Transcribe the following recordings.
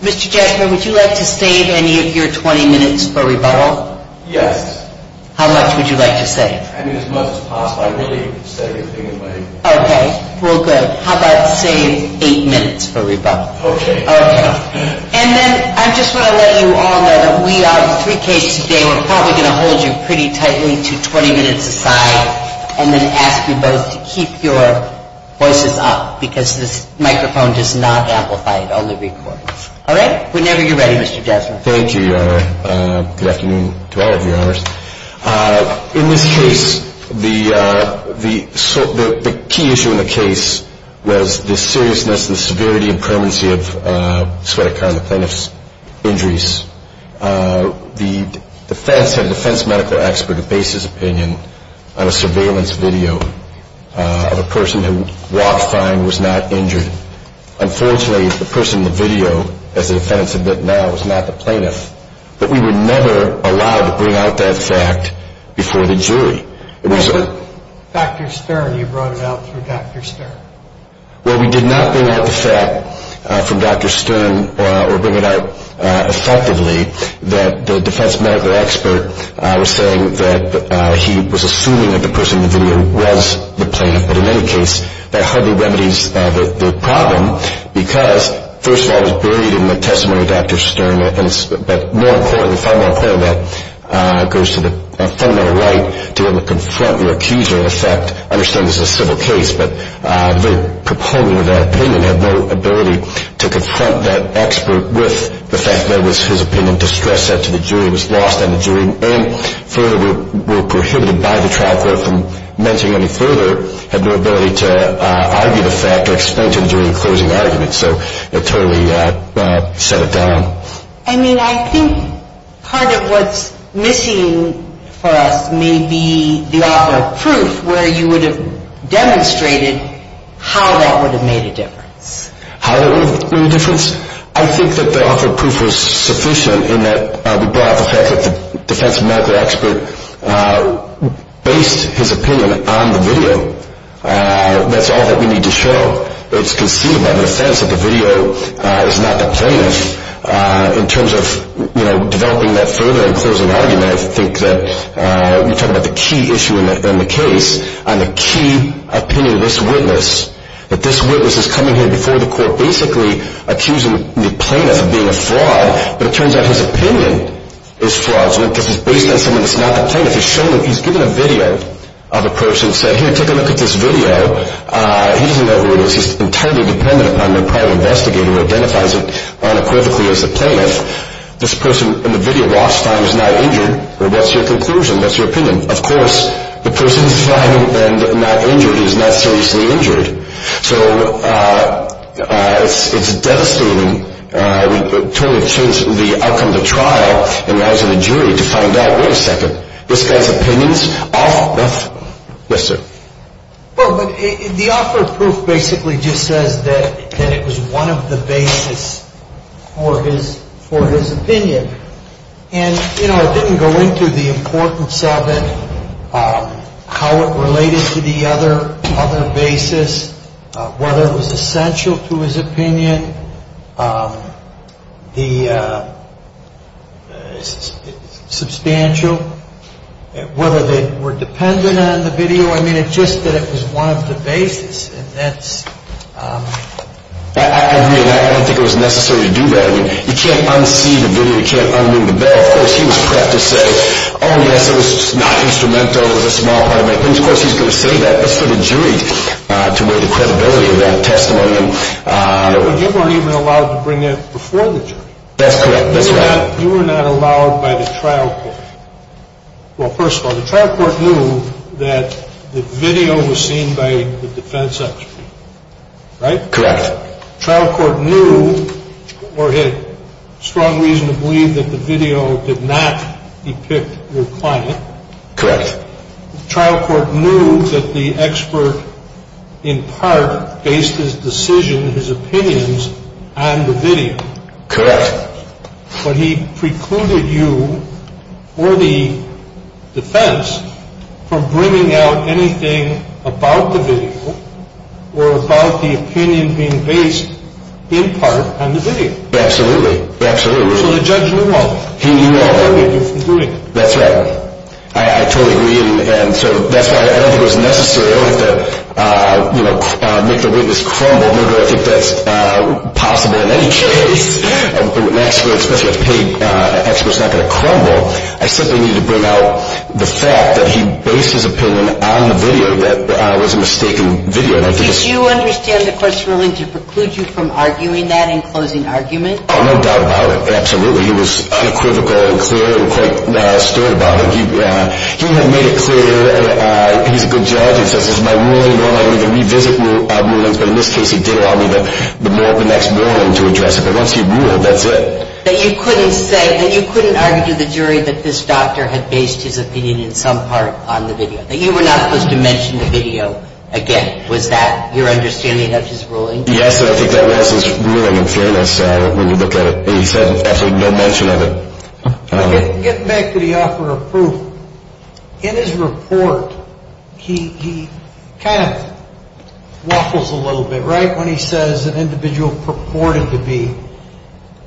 Mr. Jasper, would you like to save any of your 20 minutes for rebuttal? Yes. How much would you like to save? I mean, as much as possible. I'd really save anything in my 20 minutes. Okay. Well, good. How about, say, 8 minutes for rebuttal? Okay. Okay. And then I just want to let you all know that we are three cases today. We're probably going to hold you pretty tightly to 20 minutes aside and then ask you both to keep your voices up because this microphone does not amplify, it only records. All right? Whenever you're ready, Mr. Jasper. Thank you, Your Honor. Good afternoon to all of you, Your Honor. Thank you. Thank you. Thank you. Thank you. Thank you. Thank you. Thank you. Thank you. Thank you. Thank you. Thank you. Thank you. Thank you. Oh, thank you. Thank you. Thank you. Thank you. Thank you. Thank you. Thank you. Have a good day. The defense and the defense medical expert base his opinion on a surveillance video of a person who walked fine and was not injured. Unfortunately, the person in the video, as the defense admit now, was not the plaintiff. But we were never allowed to bring out that fact before the jury. What about Dr. Stern? You brought it out through Dr. Stern. Well, we did not bring out the fact from Dr. Stern or bring it out effectively that the defense medical expert was saying that he was assuming that the person in the video was the plaintiff. But in any case, that hardly remedies the problem because, first of all, it was buried in the testimony of Dr. Stern. But more importantly, far more importantly, that goes to the fundamental right to be able to confront your accuser. In fact, I understand this is a civil case, but the proponent of that opinion had no ability to confront that expert with the fact that it was his opinion to stress that to the jury, was lost on the jury, and further were prohibited by the trial court from mentioning any further, had no ability to argue the fact or explain to the jury the closing argument. So it totally set it down. I mean, I think part of what's missing for us may be the author of proof where you would have demonstrated how that would have made a difference. How that would have made a difference? I think that the author of proof was sufficient in that we brought up the fact that the defense medical expert based his opinion on the video. That's all that we need to show. It's conceivable in the defense that the video is not the plaintiff. In terms of, you know, developing that further in closing argument, I think that you're talking about the key issue in the case on the key opinion of this witness, that this witness is coming here before the court basically accusing the plaintiff of being a fraud, but it turns out his opinion is fraudulent because it's based on someone that's not the plaintiff. He's given a video of a person and said, here, take a look at this video. He doesn't know who it is. He's entirely dependent upon a private investigator who identifies him unequivocally as the plaintiff. This person in the video walks by and is not injured. What's your conclusion? What's your opinion? Of course, the person is fine and not injured. He is not seriously injured. So it's devastating. I would totally change the outcome of the trial and ask the jury to find out. Wait a second. This guy's opinions? Yes, sir. Well, the offer of proof basically just says that it was one of the basis for his opinion. And, you know, it didn't go into the importance of it, how it related to the other basis, whether it was essential to his opinion, the substantial, whether they were dependent on the video. I mean, it's just that it was one of the basis, and that's... I agree, and I don't think it was necessary to do that. You can't unsee the video. You can't unmove the bed. Of course, he was prepped to say, oh, yes, it was not instrumental. It was a small part of it. Of course, he's going to say that. That's for the jury to weigh the credibility of that testimony. But you weren't even allowed to bring it before the jury. That's correct. You were not allowed by the trial court. Well, first of all, the trial court knew that the video was seen by the defense expert, right? Correct. The trial court knew or had strong reason to believe that the video did not depict your client. Correct. The trial court knew that the expert, in part, based his decision, his opinions on the video. Correct. But he precluded you or the defense from bringing out anything about the video or about the opinion being based, in part, on the video. Absolutely. So the judge knew all of it. He knew all of it. He prohibited you from doing it. That's right. I totally agree. And so that's why I don't think it was necessary. I don't think that, you know, make the witness crumble. Nor do I think that's possible in any case. An expert, especially a paid expert, is not going to crumble. I simply needed to bring out the fact that he based his opinion on the video, that it was a mistaken video. Did you understand the court's ruling to preclude you from arguing that in closing argument? No doubt about it. Absolutely. He was unequivocal and clear and quite stirred about it. He had made it clear that he's a good judge and says, this is my ruling and I'm going to revisit my rulings. But in this case, he did allow me the next ruling to address it. But once you rule, that's it. That you couldn't say, that you couldn't argue to the jury that this doctor had based his opinion in some part on the video, that you were not supposed to mention the video again. Was that your understanding of his ruling? Yes. I think that was his ruling in fairness when you look at it. He said absolutely no mention of it. Getting back to the offer of proof. In his report, he kind of waffles a little bit, right? When he says an individual purported to be,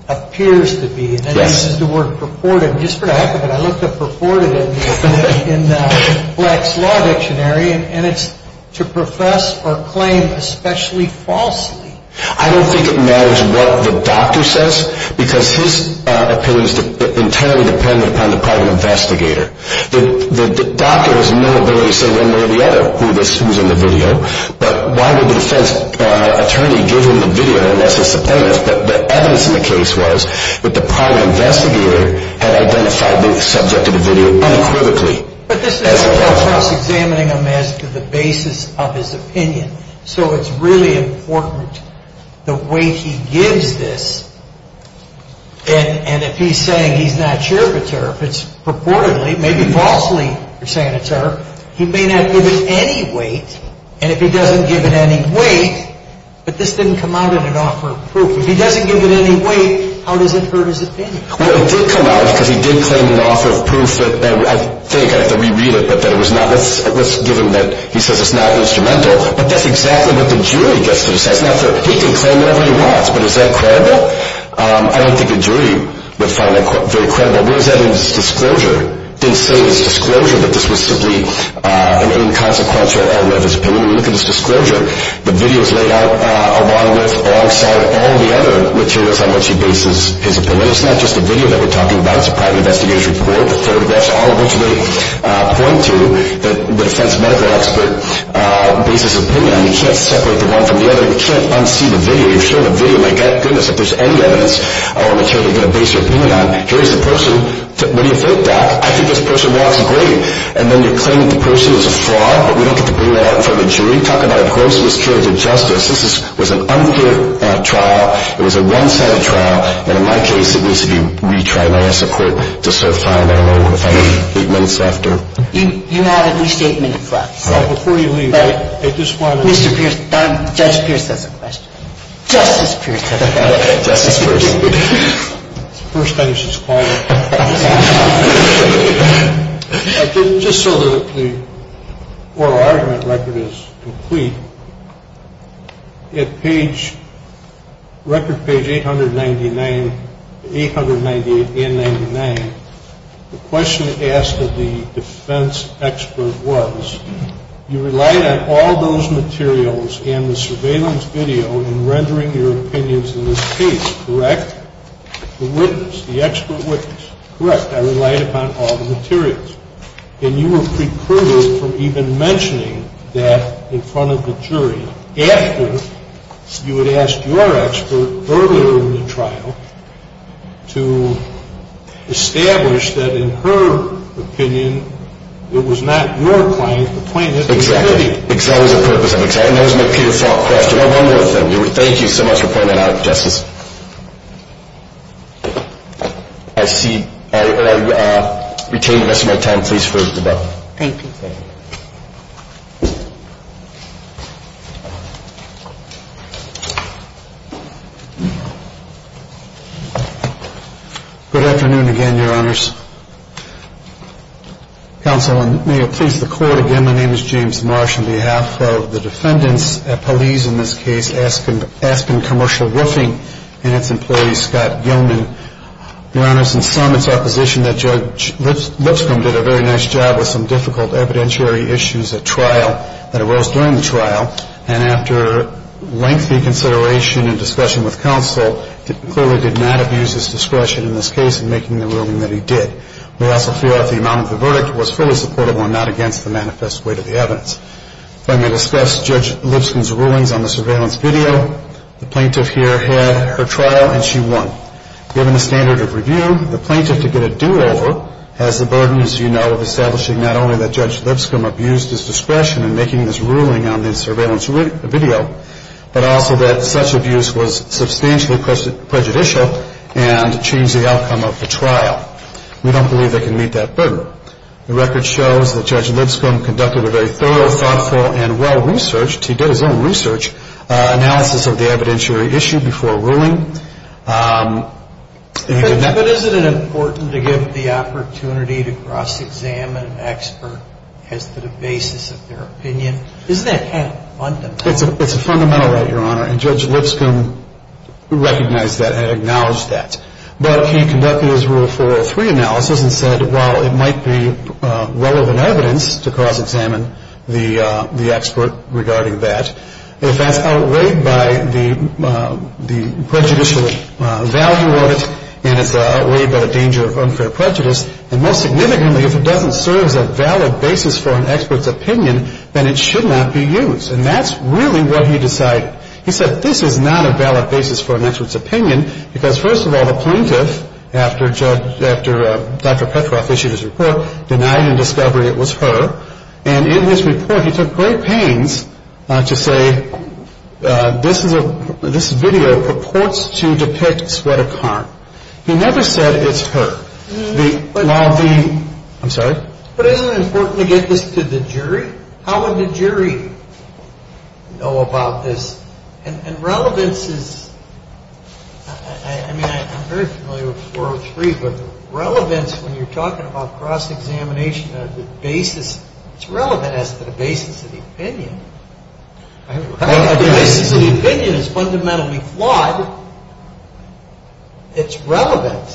appears to be. And then he uses the word purported. Just for the heck of it, I looked up purported in the Black's Law Dictionary. And it's to profess or claim especially falsely. I don't think it matters what the doctor says. Because his opinion is entirely dependent upon the private investigator. The doctor has no ability to say one way or the other who's in the video. But why would the defense attorney give him the video unless it's the plaintiff? But the evidence in the case was that the private investigator had identified the subject of the video unequivocally. But this is just examining him as to the basis of his opinion. So it's really important the weight he gives this. And if he's saying he's not sure of a tariff, it's purportedly, maybe falsely saying a tariff. He may not give it any weight. And if he doesn't give it any weight, but this didn't come out in an offer of proof. If he doesn't give it any weight, how does it hurt his opinion? Well, it did come out because he did claim an offer of proof that, I think, I have to re-read it, but that it was not. Let's give him that. He says it's not instrumental. But that's exactly what the jury gets to decide. He can claim whatever he wants, but is that credible? I don't think a jury would find that very credible. What is that in his disclosure? Didn't say in his disclosure that this was simply an inconsequential error of his opinion. Look at his disclosure. The video is laid out alongside all the other materials on which he bases his opinion. It's not just the video that we're talking about. It's a private investigator's report, photographs, all of which they point to that the defense medical expert bases his opinion on. You can't separate the one from the other. You can't unsee the video. You're showing a video. My goodness, if there's any evidence or material you're going to base your opinion on, here's the person. What do you think, Doc? I think this person walks great. And then you claim that the person is a fraud, but we don't get to bring that out in front of the jury. Talk about a gross miscarriage of justice. This was an unpaid trial. It was a one-sided trial. And in my case, it was a retrial. I asked the court to serve five, I don't know, five, eight months after. You have a restatement in front. Before you leave, I just want to make sure. Mr. Pierce, Judge Pierce has a question. Justice Pierce has a question. Justice Pierce. First thing is it's quiet. Just so that the oral argument record is complete, at page, record page 899, 898 and 99, the question asked of the defense expert was, you relied on all those materials and the surveillance video in rendering your opinions in this case, correct? The witness, the expert witness. Correct. I relied upon all the materials. And you were precluded from even mentioning that in front of the jury, after you had asked your expert earlier in the trial to establish that in her opinion, it was not your client who pointed to the video. Exactly. Because that was the purpose of it. And that was my key default question. One more thing. Thank you so much for pointing that out, Justice. I see. I retain the rest of my time, please, for the debate. Thank you. Good afternoon again, Your Honors. Counsel, and may it please the Court, again, my name is James Marsh. On behalf of the defendants, police in this case, Aspen Commercial Roofing and its employees, Scott Gilman. Your Honors, in some, it's our position that Judge Lipscomb did a very nice job with some difficult evidence. The plaintiff, as you know, had a number of evidentiary issues at trial that arose during the trial, and after lengthy consideration and discussion with counsel, clearly did not abuse his discretion in this case in making the ruling that he did. We also feel that the amount of the verdict was fully supportable and not against the manifest weight of the evidence. If I may discuss Judge Lipscomb's rulings on the surveillance video, the plaintiff here had her trial, and she won. Given the standard of review, the plaintiff, to get a do-over, has the burden, as you know, of establishing not only that Judge Lipscomb abused his discretion in making this ruling on the surveillance video, but also that such abuse was substantially prejudicial and changed the outcome of the trial. We don't believe they can meet that burden. The record shows that Judge Lipscomb conducted a very thorough, thoughtful, and well-researched, he did his own research, analysis of the evidentiary issue before ruling. But isn't it important to give the opportunity to cross-examine an expert as to the basis of their opinion? Isn't that kind of fundamental? It's a fundamental right, Your Honor, and Judge Lipscomb recognized that and acknowledged that. But he conducted his Rule 403 analysis and said, while it might be relevant evidence to cross-examine the expert regarding that, if that's outweighed by the prejudicial value of it, and it's outweighed by the danger of unfair prejudice, and most significantly, if it doesn't serve as a valid basis for an expert's opinion, then it should not be used. And that's really what he decided. He said this is not a valid basis for an expert's opinion because, first of all, a plaintiff, after Dr. Petroff issued his report, denied in discovery it was her. And in his report, he took great pains to say this video purports to depict Swetha Karn. He never said it's her. I'm sorry? But isn't it important to get this to the jury? How would the jury know about this? And relevance is, I mean, I'm very familiar with 403, but relevance, when you're talking about cross-examination of the basis, it's relevant as to the basis of the opinion. The basis of the opinion is fundamentally flawed. It's relevant.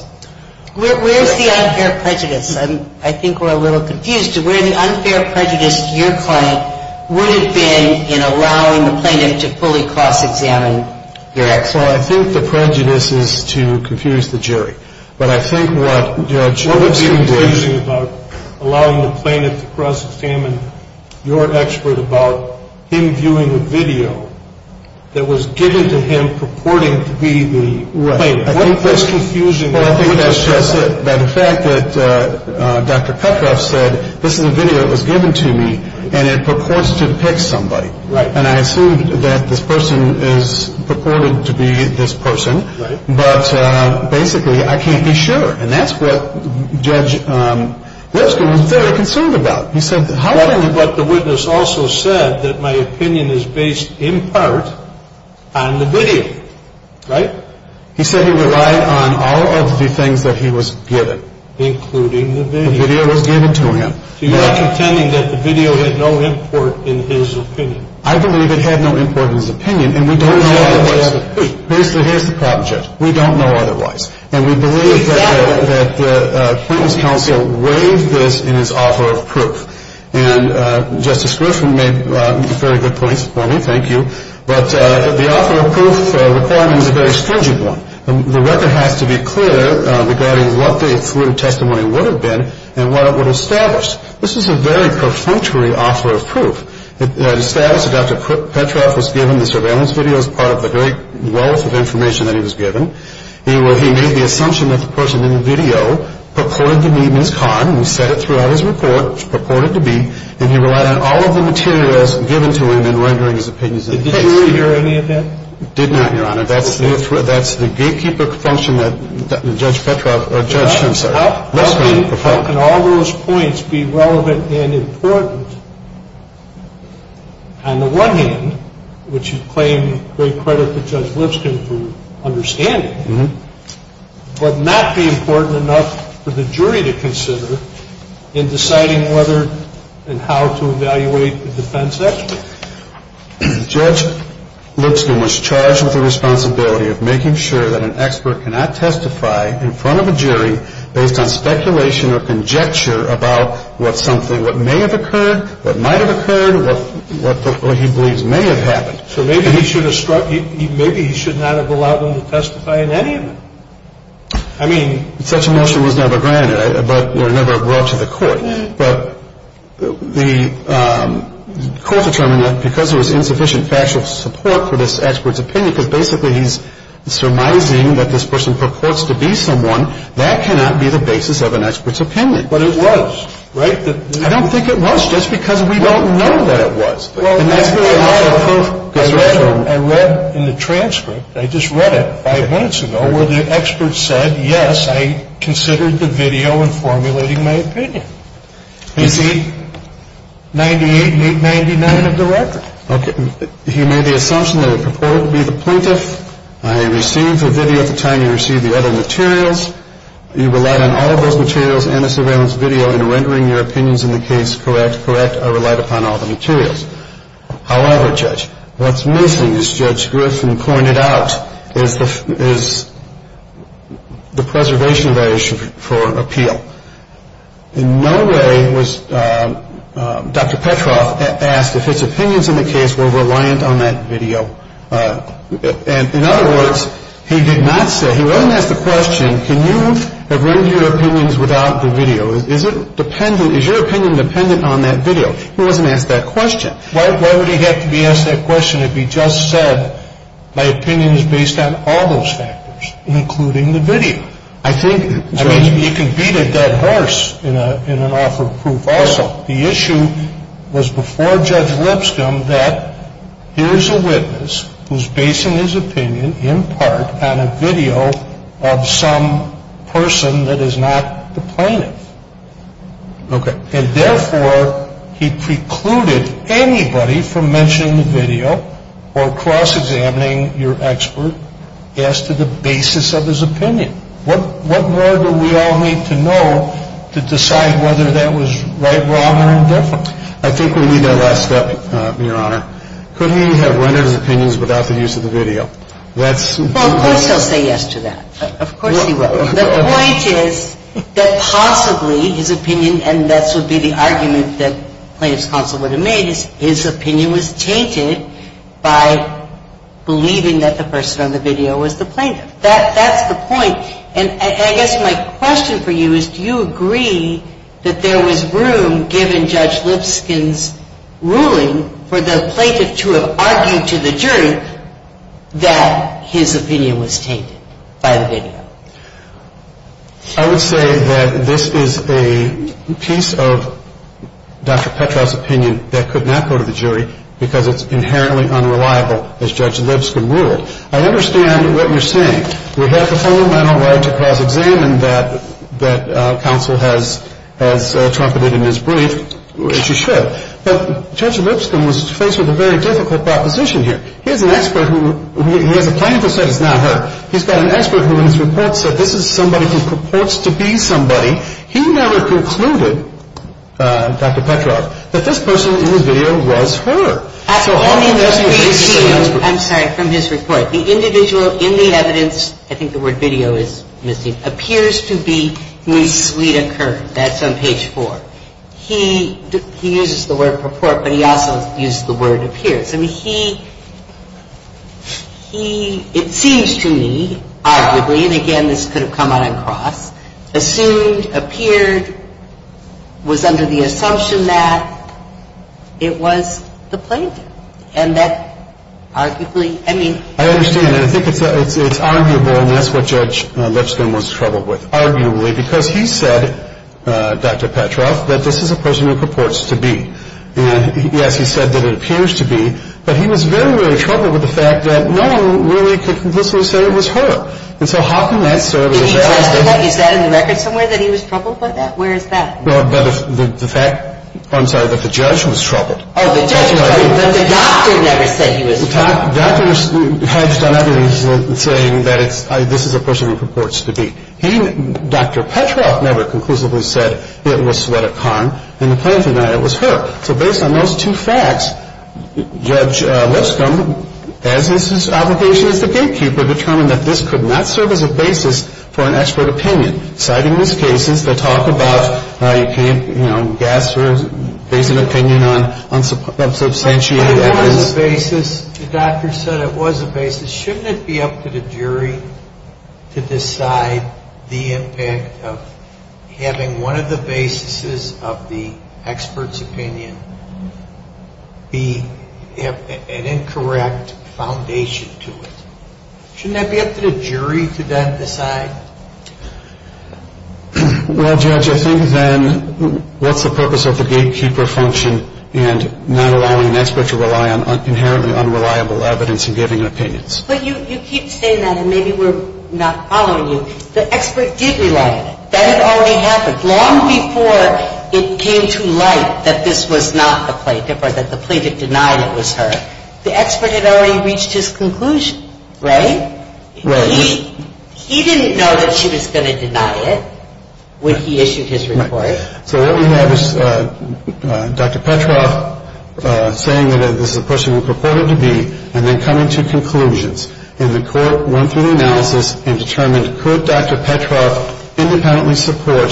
Where's the unfair prejudice? I think we're a little confused to where the unfair prejudice to your client would have been in allowing the plaintiff to fully cross-examine your expert. Well, I think the prejudice is to confuse the jury. But I think what's confusing about allowing the plaintiff to cross-examine your expert about him viewing a video that was given to him purporting to be the plaintiff, I think that's confusing. Well, I think that's just it. But the fact that Dr. Kutroff said, this is a video that was given to me, and it purports to depict somebody. And I assume that this person is purported to be this person. But basically, I can't be sure. And that's what Judge Lipscomb was very concerned about. But the witness also said that my opinion is based in part on the video. Right? He said he relied on all of the things that he was given. Including the video. The video was given to him. So you're not contending that the video had no import in his opinion? I believe it had no import in his opinion. And we don't know otherwise. Basically, here's the problem, Judge. We don't know otherwise. And we believe that the plaintiff's counsel weighed this in his offer of proof. And Justice Griffin made very good points for me. Thank you. But the offer of proof requirement is a very stringent one. The record has to be clear regarding what the affluent testimony would have been and what it would establish. This is a very perfunctory offer of proof. It established that Dr. Kutroff was given the surveillance video as part of the great wealth of information that he was given. He made the assumption that the person in the video purported to be Ms. Kahn. And he said it throughout his report, purported to be. And he relied on all of the materials given to him in rendering his opinions in the case. Did the jury hear any of that? Did not, Your Honor. That's the gatekeeper function that Judge Kutroff or Judge Schoen said. How can all those points be relevant and important on the one hand, which you claim great credit to Judge Lipscomb for understanding, but not be important enough for the jury to consider in deciding whether and how to evaluate the defense expert? Judge Lipscomb was charged with the responsibility of making sure that an expert cannot testify in front of a jury based on speculation or conjecture about what something, what may have occurred, what might have occurred, what he believes may have happened. So maybe he should have struck, maybe he should not have allowed them to testify in any of it. I mean. Such a motion was never granted, but never brought to the court. But the court determined that because there was insufficient factual support for this expert's opinion, because basically he's surmising that this person purports to be someone, that cannot be the basis of an expert's opinion. But it was, right? I don't think it was, just because we don't know that it was. I read in the transcript, I just read it five minutes ago, where the expert said, yes, I considered the video in formulating my opinion. You see, 98 and 899 of the record. Okay. He made the assumption that it purported to be the plaintiff. I received the video at the time you received the other materials. You relied on all of those materials and a surveillance video in rendering your opinions in the case correct. Correct. I relied upon all the materials. However, Judge, what's missing, as Judge Griffin pointed out, is the preservation of evidence for appeal. In no way was Dr. Petroff asked if his opinions in the case were reliant on that video. And in other words, he did not say, he wasn't asked the question, can you render your opinions without the video? Is it dependent, is your opinion dependent on that video? He wasn't asked that question. Why would he have to be asked that question if he just said, my opinion is based on all those factors, including the video? I think, Judge. I mean, he can beat a dead horse in an offer of proof also. The issue was before Judge Lipscomb that here's a witness who's basing his opinion in part on a video of some person that is not the plaintiff. Okay. And therefore, he precluded anybody from mentioning the video or cross-examining your expert as to the basis of his opinion. What more do we all need to know to decide whether that was right, wrong, or indifferent? I think we need that last step, Your Honor. Couldn't he have rendered his opinions without the use of the video? Well, of course he'll say yes to that. Of course he will. The point is that possibly his opinion, and this would be the argument that Plaintiff's Counsel would have made, is his opinion was tainted by believing that the person on the video was the plaintiff. That's the point. And I guess my question for you is do you agree that there was room, given Judge Lipscomb's ruling, for the plaintiff to have argued to the jury that his opinion was tainted by the video? I would say that this is a piece of Dr. Petrow's opinion that could not go to the jury because it's inherently unreliable, as Judge Lipscomb ruled. I understand what you're saying. We have the fundamental right to cross-examine that Counsel has trumpeted in his brief, which he should. But Judge Lipscomb was faced with a very difficult proposition here. He has an expert who – he has a plaintiff who said it's not her. He's got an expert who in his report said this is somebody who purports to be somebody. He never concluded, Dr. Petrow, that this person in the video was her. I'm sorry. From his report. The individual in the evidence – I think the word video is missing – appears to be Ms. Lita Kern. That's on page 4. He uses the word purport, but he also uses the word appears. I mean, he – it seems to me, arguably, and again, this could have come out across, assumed, was under the assumption that it was the plaintiff. And that arguably – I mean – I understand. And I think it's arguable, and that's what Judge Lipscomb was troubled with. Arguably, because he said, Dr. Petrow, that this is a person who purports to be. And, yes, he said that it appears to be. But he was very, very troubled with the fact that no one really could conclusively say it was her. And so how can that serve as – Is that in the record somewhere, that he was troubled by that? Where is that? The fact – I'm sorry, that the judge was troubled. Oh, the judge was troubled. But the doctor never said he was troubled. The doctor has done evidence saying that this is a person who purports to be. He, Dr. Petrow, never conclusively said it was Sveta Kern, and the plaintiff denied it was her. So based on those two facts, Judge Lipscomb, as is his obligation as the gatekeeper, determined that this could not serve as a basis for an expert opinion. Citing these cases that talk about how you can't, you know, gasp or base an opinion on unsubstantiated evidence. But it was a basis. And shouldn't it be up to the jury to decide the impact of having one of the basis of the expert's opinion be an incorrect foundation to it? Shouldn't that be up to the jury to then decide? Well, Judge, I think then what's the purpose of the gatekeeper function and not allowing an expert to rely on inherently unreliable evidence and giving opinions? But you keep saying that, and maybe we're not following you. The expert did rely on it. That had already happened long before it came to light that this was not the plaintiff or that the plaintiff denied it was her. The expert had already reached his conclusion, right? Right. He didn't know that she was going to deny it when he issued his report. So what we have is Dr. Petroff saying that this is a person who purported to be and then coming to conclusions. And the court went through the analysis and determined, could Dr. Petroff independently support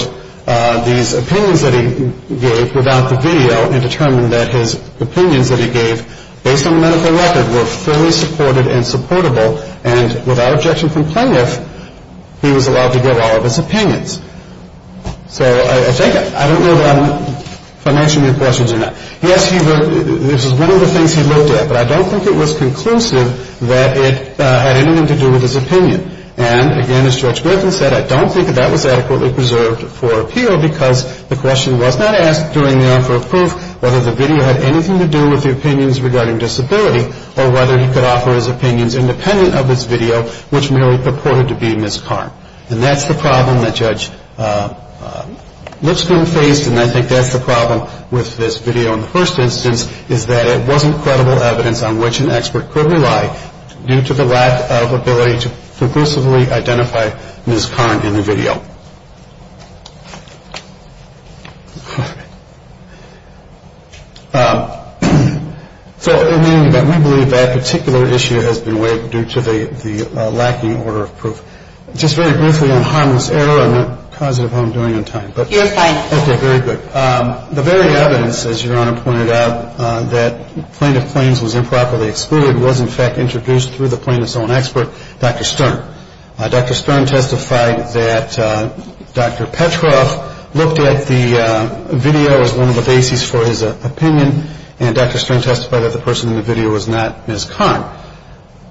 these opinions that he gave without the video and determined that his opinions that he gave based on the medical record were fully supported and supportable and without objection from plaintiff, he was allowed to give all of his opinions. So I think I don't know if I mentioned your questions or not. Yes, this is one of the things he looked at, but I don't think it was conclusive that it had anything to do with his opinion. And again, as Judge Griffin said, I don't think that that was adequately preserved for appeal because the question was not asked during the offer of proof whether the video had anything to do with the opinions regarding disability or whether he could offer his opinions independent of this video, which merely purported to be Ms. Karn. And that's the problem that Judge Lipscomb faced, and I think that's the problem with this video in the first instance is that it wasn't credible evidence on which an expert could rely due to the lack of ability to conclusively identify Ms. Karn in the video. So in any event, we believe that particular issue has been weighed due to the lacking order of proof. Just very briefly on harmless error, I'm not positive how I'm doing on time. You're fine. Okay. Very good. The very evidence, as Your Honor pointed out, that Plaintiff claims was improperly excluded was in fact introduced through the plaintiff's own expert, Dr. Stern. Dr. Stern testified that Dr. Petroff looked at the video as one of the bases for his opinion, and Dr. Stern testified that the person in the video was not Ms. Karn.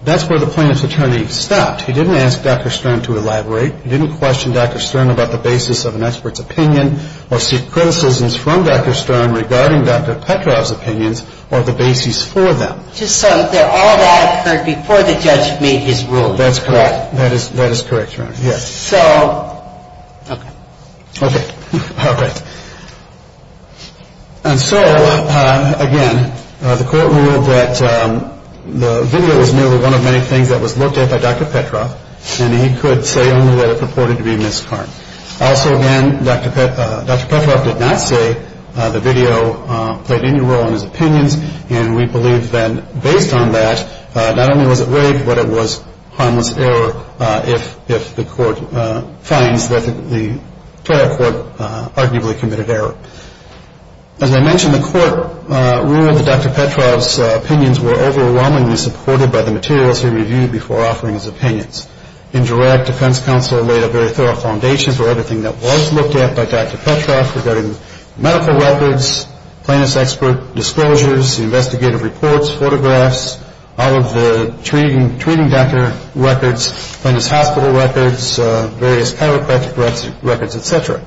That's where the plaintiff's attorney stopped. He didn't ask Dr. Stern to elaborate. He didn't question Dr. Stern about the basis of an expert's opinion or seek criticisms from Dr. Stern regarding Dr. Petroff's opinions or the bases for them. Just so that all that occurred before the judge made his ruling. That's correct. That is correct, Your Honor. Yes. So... Okay. Okay. All right. And so, again, the court ruled that the video was merely one of many things that was looked at by Dr. Petroff, and he could say only that it purported to be Ms. Karn. Also, again, Dr. Petroff did not say the video played any role in his opinions, and we believe that based on that, not only was it rigged, but it was harmless error if the court finds that the trial court arguably committed error. As I mentioned, the court ruled that Dr. Petroff's opinions were overwhelmingly supported by the materials he reviewed before offering his opinions. Indirect defense counsel laid a very thorough foundation for everything that was looked at by Dr. Petroff regarding medical records, plaintiff's expert disclosures, investigative reports, photographs, all of the treating doctor records, plaintiff's hospital records, various chiropractic records, et cetera.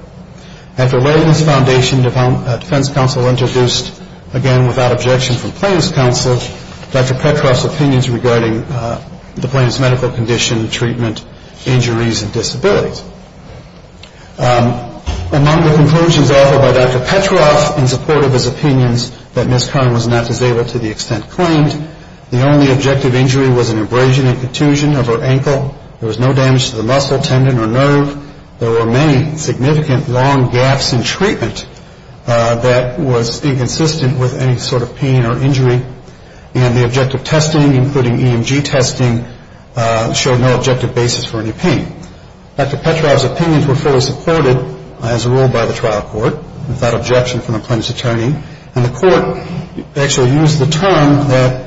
After laying this foundation, defense counsel introduced, again, without objection from plaintiff's counsel, Dr. Petroff's opinions regarding the plaintiff's medical condition, treatment, injuries, and disabilities. Among the conclusions offered by Dr. Petroff in support of his opinions that Ms. Karn was not disabled to the extent claimed, the only objective injury was an abrasion and contusion of her ankle. There was no damage to the muscle, tendon, or nerve. There were many significant long gaps in treatment that was inconsistent with any sort of pain or injury, and the objective testing, including EMG testing, showed no objective basis for any pain. Dr. Petroff's opinions were fully supported, as ruled by the trial court, without objection from the plaintiff's attorney, and the court actually used the term that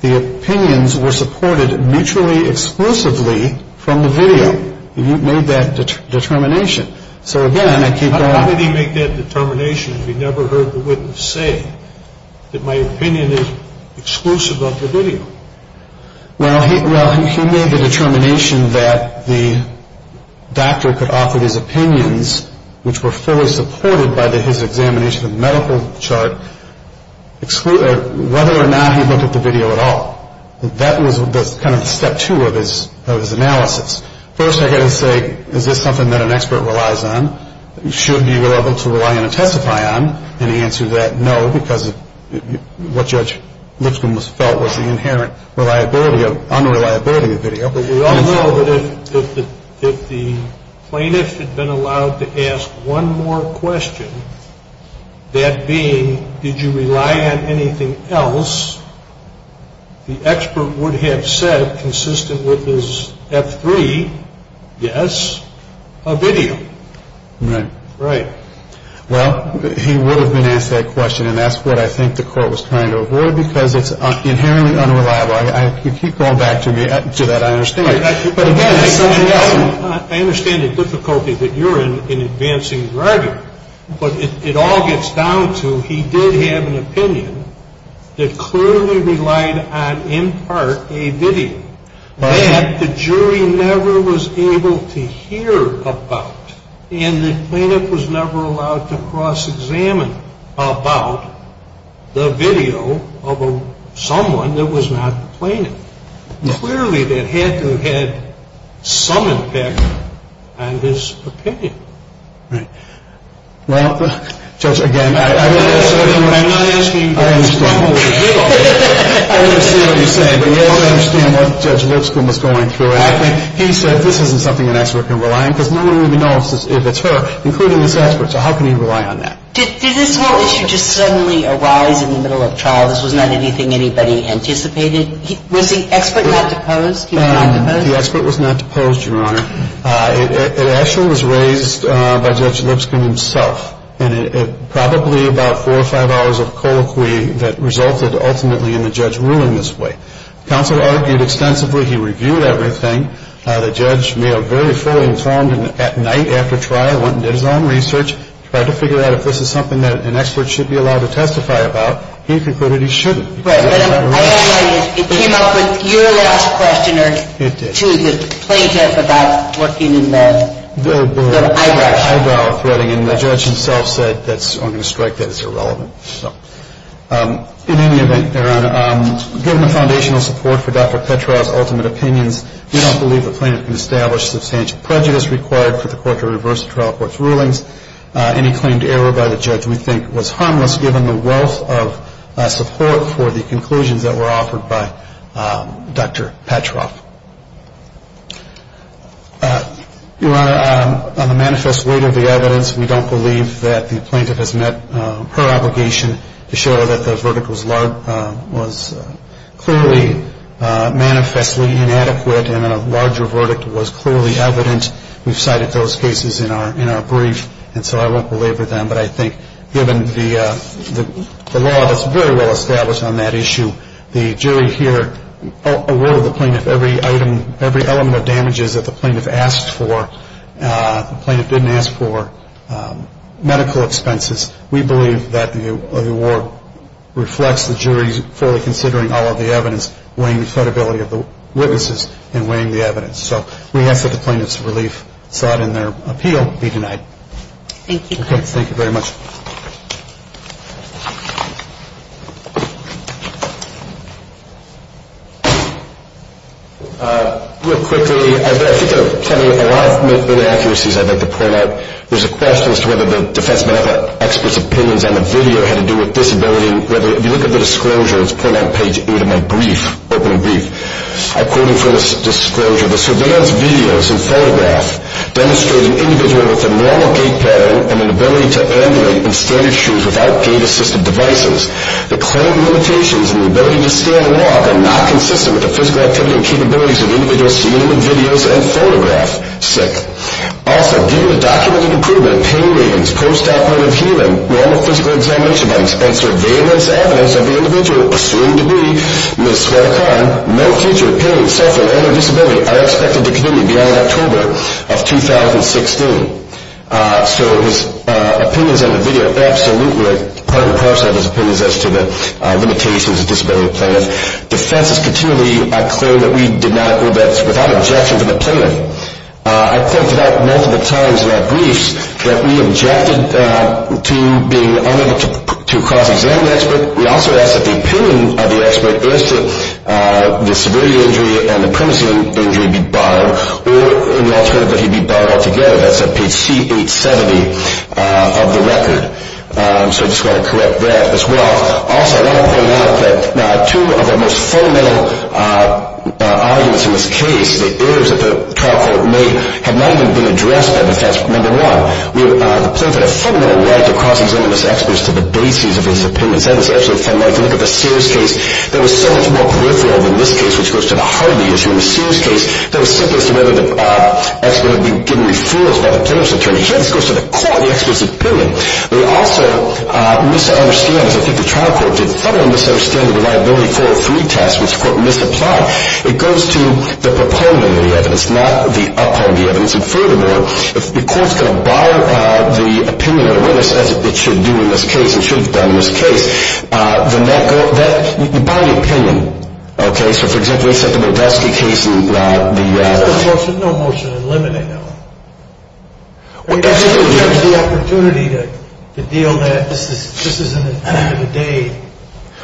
the opinions were supported mutually exclusively from the video. He made that determination. So, again, I keep going on. How did he make that determination if he never heard the witness say that my opinion is exclusive of the video? Well, he made the determination that the doctor could offer his opinions, which were fully supported by his examination of the medical chart, whether or not he looked at the video at all. That was kind of step two of his analysis. First, I've got to say, is this something that an expert relies on, should be reliable to rely and testify on? And the answer to that, no, because what Judge Lipscomb felt was the inherent unreliability of the video. But we all know that if the plaintiff had been allowed to ask one more question, that being, did you rely on anything else, the expert would have said, consistent with his F3, yes, a video. Right. Well, he would have been asked that question, and that's what I think the court was trying to avoid, because it's inherently unreliable. You keep going back to me, to that I understand. Right. But, again, it's something else. I understand the difficulty that you're in advancing your argument, but it all gets down to he did have an opinion that clearly relied on, in part, a video that the jury never was able to hear about. And the plaintiff was never allowed to cross-examine about the video of someone that was not the plaintiff. Clearly, that had to have had some impact on his opinion. Right. Well, Judge, again, I understand what you're saying, but you don't understand what Judge Lipscomb was going through. He said this isn't something an expert can rely on, because no one really knows if it's her, including this expert. So how can he rely on that? Did this whole issue just suddenly arise in the middle of trial? This was not anything anybody anticipated? Was the expert not deposed? The expert was not deposed, Your Honor. It actually was raised by Judge Lipscomb himself, and it probably about four or five hours of colloquy that resulted ultimately in the judge ruling this way. Counsel argued extensively. He reviewed everything. The judge may have very fully informed at night after trial, went and did his own research, tried to figure out if this is something that an expert should be allowed to testify about. He concluded he shouldn't. Right. But it came up with your last question to the plaintiff about working in the eyebrow threading. And the judge himself said, I'm going to strike that as irrelevant. In any event, Your Honor, given the foundational support for Dr. Petroff's ultimate opinions, we don't believe the plaintiff can establish substantial prejudice required for the court to reverse the trial court's rulings. Any claimed error by the judge we think was harmless, given the wealth of support for the conclusions that were offered by Dr. Petroff. Your Honor, on the manifest weight of the evidence, we don't believe that the plaintiff has met her obligation to show that the verdict was clearly manifestly inadequate and a larger verdict was clearly evident. We've cited those cases in our brief, and so I won't belabor them. But I think given the law that's very well established on that issue, the jury here, every element of damages that the plaintiff asked for, the plaintiff didn't ask for, medical expenses, we believe that the award reflects the jury's fully considering all of the evidence, weighing the credibility of the witnesses, and weighing the evidence. So we ask that the plaintiff's relief sought in their appeal be denied. Thank you. Okay. Real quickly, I think there are a lot of inaccuracies I'd like to point out. There's a question as to whether the defense medical expert's opinions on the video had to do with disability. If you look at the disclosure, it's pointed on page 8 of my brief, open brief. I quote him for this disclosure. The surveillance videos and photographs demonstrate an individual with a normal gait pattern and an ability to ambulate in standard shoes without gait-assisted devices. The claim limitations and the ability to stand and walk are not consistent with the physical activity and capabilities of the individual seen in the videos and photographs. Sick. Also, given the documented improvement of pain ratings, post-operative healing, normal physical examination by the expense of surveillance evidence of the individual, assumed to be Ms. Swara Khan, no future pain, suffering, or disability are expected to continue beyond October of 2016. So his opinions on the video absolutely are part and parcel of his opinions as to the limitations of disability plaintiff. Defense has continually claimed that we did not, or that's without objection to the plaintiff. I've said that multiple times in our briefs, that we objected to being unable to cross-examine the expert. We also asked that the opinion of the expert as to the severity of the injury and the primacy of the injury be barred, or in the alternative that he be barred altogether. That's on page C870 of the record. So I just want to correct that as well. Also, I want to point out that two of the most fundamental arguments in this case, the errors that the trial court made, have not even been addressed by the defense. Number one, the plaintiff had a fundamental right to cross-examine this expert to the bases of his opinions. That was absolutely fundamental. If you look at the Sears case, that was so much more peripheral than this case, which goes to the Hardy issue. In the Sears case, that was simply as to whether the expert had been given referrals by the plaintiff's attorney. Here, this goes to the court, the expert's opinion. They also misunderstand, as I think the trial court did, fundamentally misunderstand the liability 403 test, which the court misapplied. It goes to the proponent of the evidence, not the upholder of the evidence. And furthermore, if the court is going to bar the opinion of the witness, as it should do in this case, you bar the opinion, okay? So, for example, you said the Modelsky case and the- There's no motion to eliminate, though. Well, absolutely. In terms of the opportunity to deal with that, this isn't the end of the day.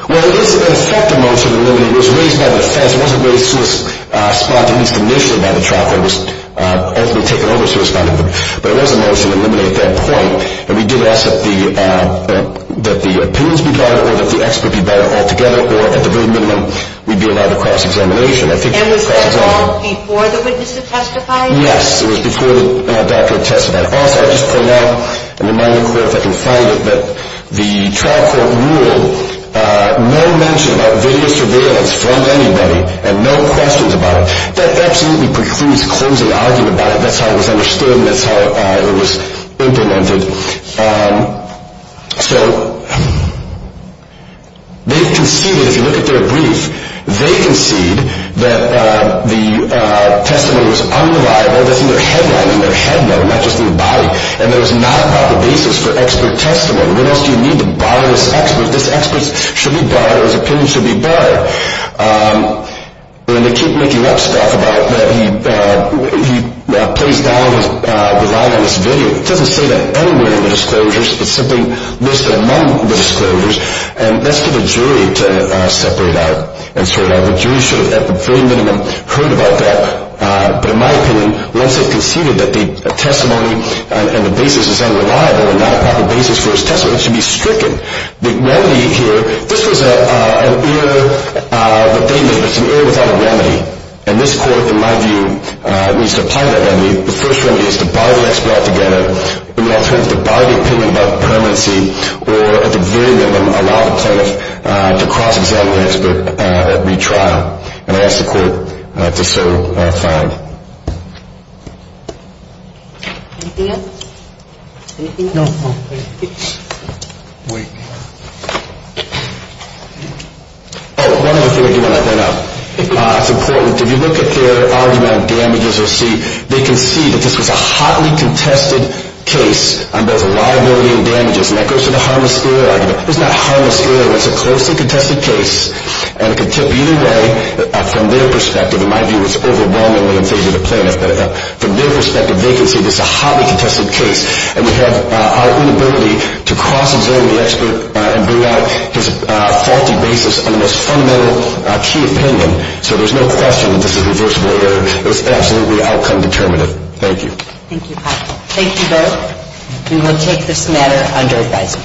Well, it is, in effect, a motion to eliminate. It was raised by the defense. It wasn't raised to respond to, at least initially, by the trial court. It was ultimately taken over to respond to, but it was a motion to eliminate at that point. And we did ask that the opinions be barred, or that the expert be barred altogether, or, at the very minimum, we'd be allowed to cross-examination. And was that all before the witness had testified? Yes, it was before the doctor had testified. Also, I'll just point out, and remind the court, if I can find it, that the trial court ruled no mention about video surveillance from anybody, and no questions about it. That absolutely precludes closing the argument about it. That's how it was understood, and that's how it was implemented. So they've conceded, if you look at their brief, they concede that the testimony was unreliable. That's in their headline, in their headline, not just in the body. And there was not a proper basis for expert testimony. What else do you need to bar this expert? This expert should be barred. His opinion should be barred. And they keep making up stuff about that he plays down the line on this video. It doesn't say that anywhere in the disclosures. It's simply listed among the disclosures, and that's for the jury to separate out and sort out. The jury should have, at the very minimum, heard about that. But in my opinion, once they've conceded that the testimony and the basis is unreliable and not a proper basis for his testimony, it should be stricken. The remedy here, this was an error that they made, but it's an error without a remedy. And this court, in my view, needs to apply that remedy. The first remedy is to bar the expert altogether. In other words, to bar the opinion about permanency or, at the very minimum, allow the plaintiff to cross-examine the expert at retrial and ask the court to so find. Anything else? No. Wait. Oh, one other thing I do want to point out. It's important. If you look at their argument on damages received, they concede that this was a hotly contested case on both liability and damages, and that goes to the harmless error argument. It's not harmless error. It's a closely contested case, and it could tip either way from their perspective. In my view, it's overwhelming when in favor of the plaintiff. But from their perspective, vacancy, this is a hotly contested case, and we have our inability to cross-examine the expert and bring out his faulty basis on the most fundamental key opinion. So there's no question that this is reversible error. It was absolutely outcome determinative. Thank you. Thank you, Pat. Thank you both. We will take this matter under advisory.